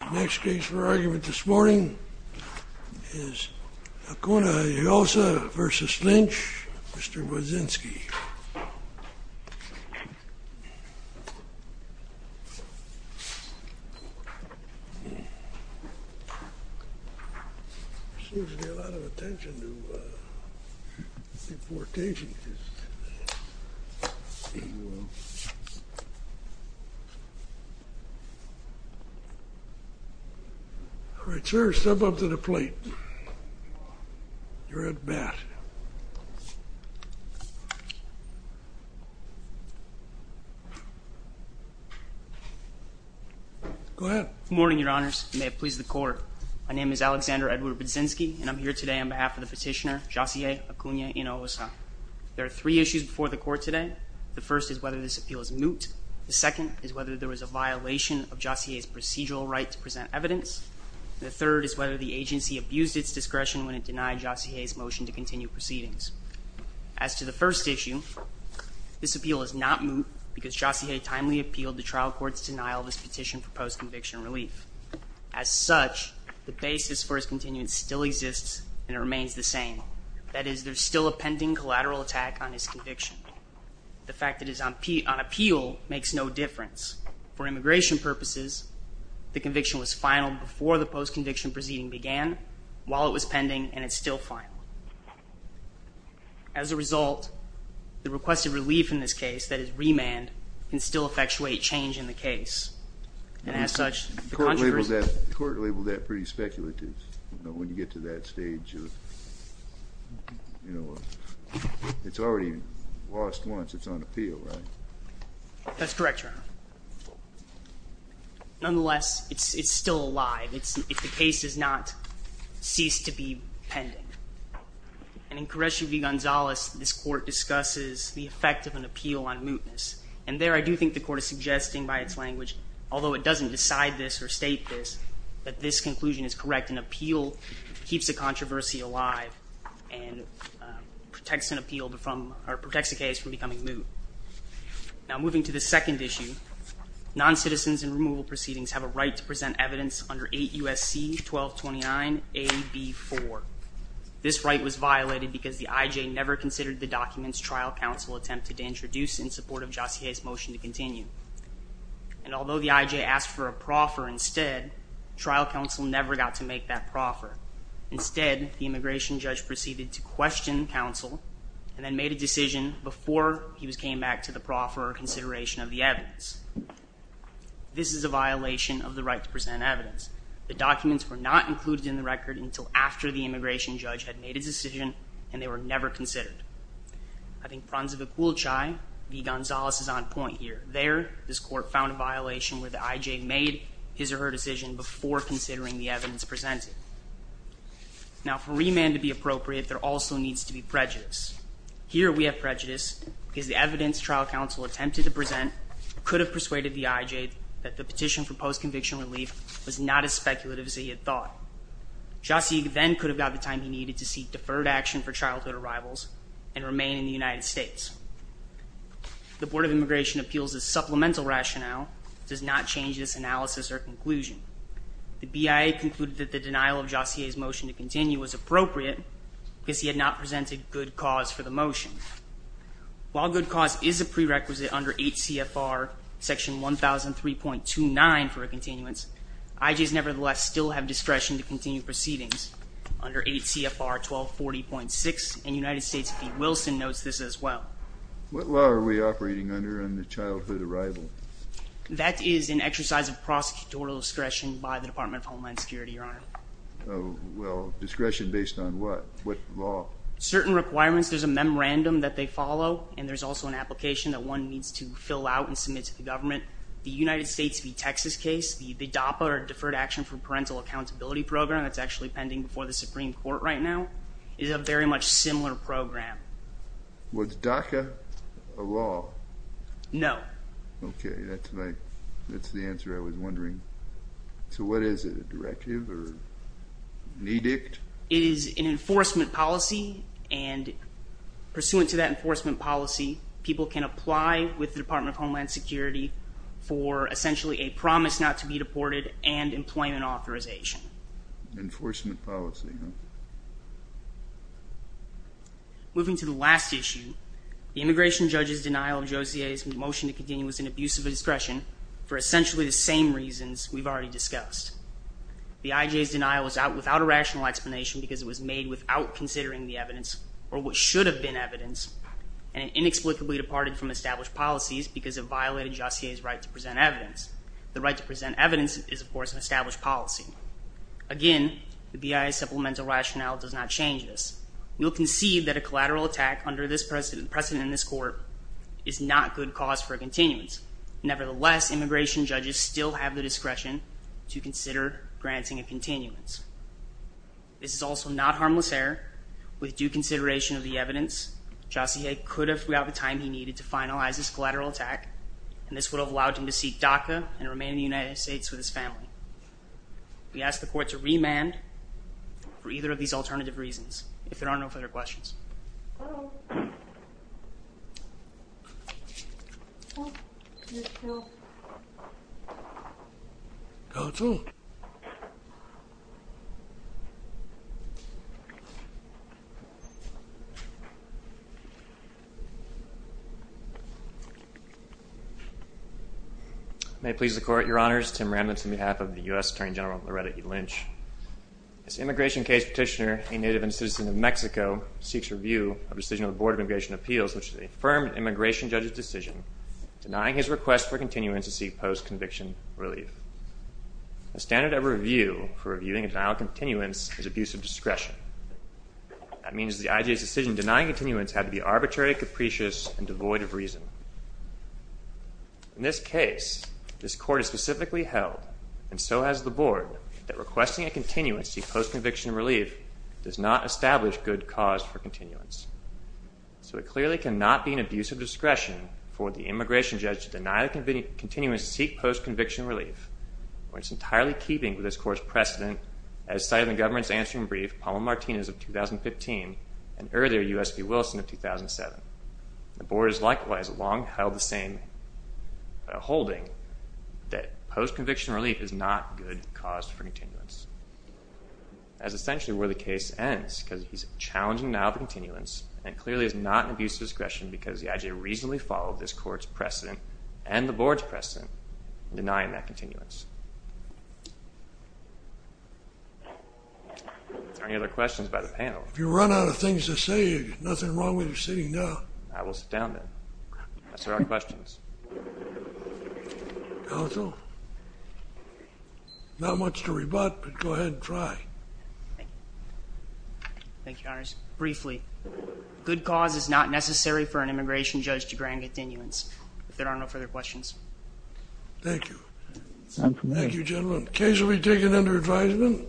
The next case for argument this morning is Acuna-Hinojosa v. Lynch, Mr. Wozinski. All right, sir, step up to the plate. You're at bat. Go ahead. Good morning, Your Honors, and may it please the Court. My name is Alexander Edward Wozinski, and I'm here today on behalf of the petitioner, Jozihey Acuna-Hinojosa. There are three issues before the Court today. The first is whether this appeal is moot. The second is whether there was a violation of Jozihey's procedural right to present evidence. The third is whether the agency abused its discretion when it denied Jozihey's motion to continue proceedings. As to the first issue, this appeal is not moot because Jozihey timely appealed the trial court's denial of his petition for post-conviction relief. As such, the basis for his continuance still exists, and it remains the same. That is, there's still a pending collateral attack on his conviction. The fact that it's on appeal makes no difference. For immigration purposes, the conviction was final before the post-conviction proceeding began, while it was pending, and it's still final. As a result, the requested relief in this case, that is, remand, can still effectuate change in the case. The Court labeled that pretty speculative. You know, when you get to that stage of, you know, it's already lost once it's on appeal, right? That's correct, Your Honor. Nonetheless, it's still alive if the case does not cease to be pending. And in Correggio v. Gonzales, this Court discusses the effect of an appeal on mootness. And there, I do think the Court is suggesting by its language, although it doesn't decide this or state this, that this conclusion is correct and appeal keeps the controversy alive and protects an appeal from, or protects the case from becoming moot. Now, moving to the second issue, noncitizens in removal proceedings have a right to present evidence under 8 U.S.C. 1229 AB4. This right was violated because the I.J. never considered the documents trial counsel attempted to introduce in support of Jossie Hayes' motion to continue. And although the I.J. asked for a proffer instead, trial counsel never got to make that proffer. Instead, the immigration judge proceeded to question counsel and then made a decision before he came back to the proffer or consideration of the evidence. This is a violation of the right to present evidence. The documents were not included in the record until after the immigration judge had made his decision, and they were never considered. I think Pranzivic-Wolchai v. Gonzales is on point here. There, this Court found a violation where the I.J. made his or her decision before considering the evidence presented. Now, for remand to be appropriate, there also needs to be prejudice. Here, we have prejudice because the evidence trial counsel attempted to present could have persuaded the I.J. that the petition for post-conviction relief was not as speculative as he had thought. Jossie then could have got the time he needed to seek deferred action for childhood arrivals and remain in the United States. The Board of Immigration Appeals' supplemental rationale does not change this analysis or conclusion. The BIA concluded that the denial of Jossie Hayes' motion to continue was appropriate because he had not presented good cause for the motion. While good cause is a prerequisite under 8 CFR Section 1003.29 for a continuance, I.J.'s nevertheless still have discretion to continue proceedings under 8 CFR 1240.6, and United States v. Wilson notes this as well. What law are we operating under on the childhood arrival? That is an exercise of prosecutorial discretion by the Department of Homeland Security, Your Honor. Oh, well, discretion based on what? What law? Well, certain requirements, there's a memorandum that they follow, and there's also an application that one needs to fill out and submit to the government. The United States v. Texas case, the DAPA, or Deferred Action for Parental Accountability Program, that's actually pending before the Supreme Court right now, is a very much similar program. Was DACA a law? No. Okay, that's the answer I was wondering. So what is it, a directive or an edict? It is an enforcement policy, and pursuant to that enforcement policy, people can apply with the Department of Homeland Security for essentially a promise not to be deported and employment authorization. Enforcement policy, huh? Moving to the last issue, the immigration judge's denial of Josie's motion to continue is an abuse of discretion for essentially the same reasons we've already discussed. The IJ's denial was without a rational explanation because it was made without considering the evidence or what should have been evidence, and it inexplicably departed from established policies because it violated Josie's right to present evidence. The right to present evidence is, of course, an established policy. Again, the BIA's supplemental rationale does not change this. You'll concede that a collateral attack under this precedent in this court is not good cause for a continuance. Nevertheless, immigration judges still have the discretion to consider granting a continuance. This is also not harmless error. With due consideration of the evidence, Josie could have got the time he needed to finalize this collateral attack, and this would have allowed him to seek DACA and remain in the United States with his family. We ask the court to remand for either of these alternative reasons. If there are no further questions. Go to. May it please the Court, Your Honors. Tim Remnitz on behalf of the U.S. Attorney General Loretta E. Lynch. This immigration case petitioner, a native and citizen of Mexico, seeks review of the decision of the Board of Immigration Appeals, which is the affirmed immigration judge's decision, denying his request for continuance to seek post-conviction relief. The standard of review for reviewing a denial of continuance is abuse of discretion. That means the IJA's decision denying continuance had to be arbitrary, capricious, and devoid of reason. In this case, this Court has specifically held, and so has the Board, that requesting a continuance to seek post-conviction relief does not establish good cause for continuance. So it clearly cannot be an abuse of discretion for the immigration judge to deny the continuance to seek post-conviction relief, when it's entirely keeping with this Court's precedent as cited in the government's answering brief, Palma-Martinez of 2015, and earlier, U.S.P. Wilson of 2007. The Board has likewise long held the same holding that post-conviction relief is not good cause for continuance, as essentially where the case ends, because he's challenging denial of continuance and clearly is not an abuse of discretion because the IJA reasonably followed this Court's precedent and the Board's precedent in denying that continuance. Are there any other questions by the panel? If you run out of things to say, there's nothing wrong with you sitting down. I will sit down then. If there are questions. Counsel? Not much to rebut, but go ahead and try. Thank you, Your Honors. Briefly, good cause is not necessary for an immigration judge to grant continuance. If there are no further questions. Thank you. Thank you, gentlemen. Case will be taken under advisement.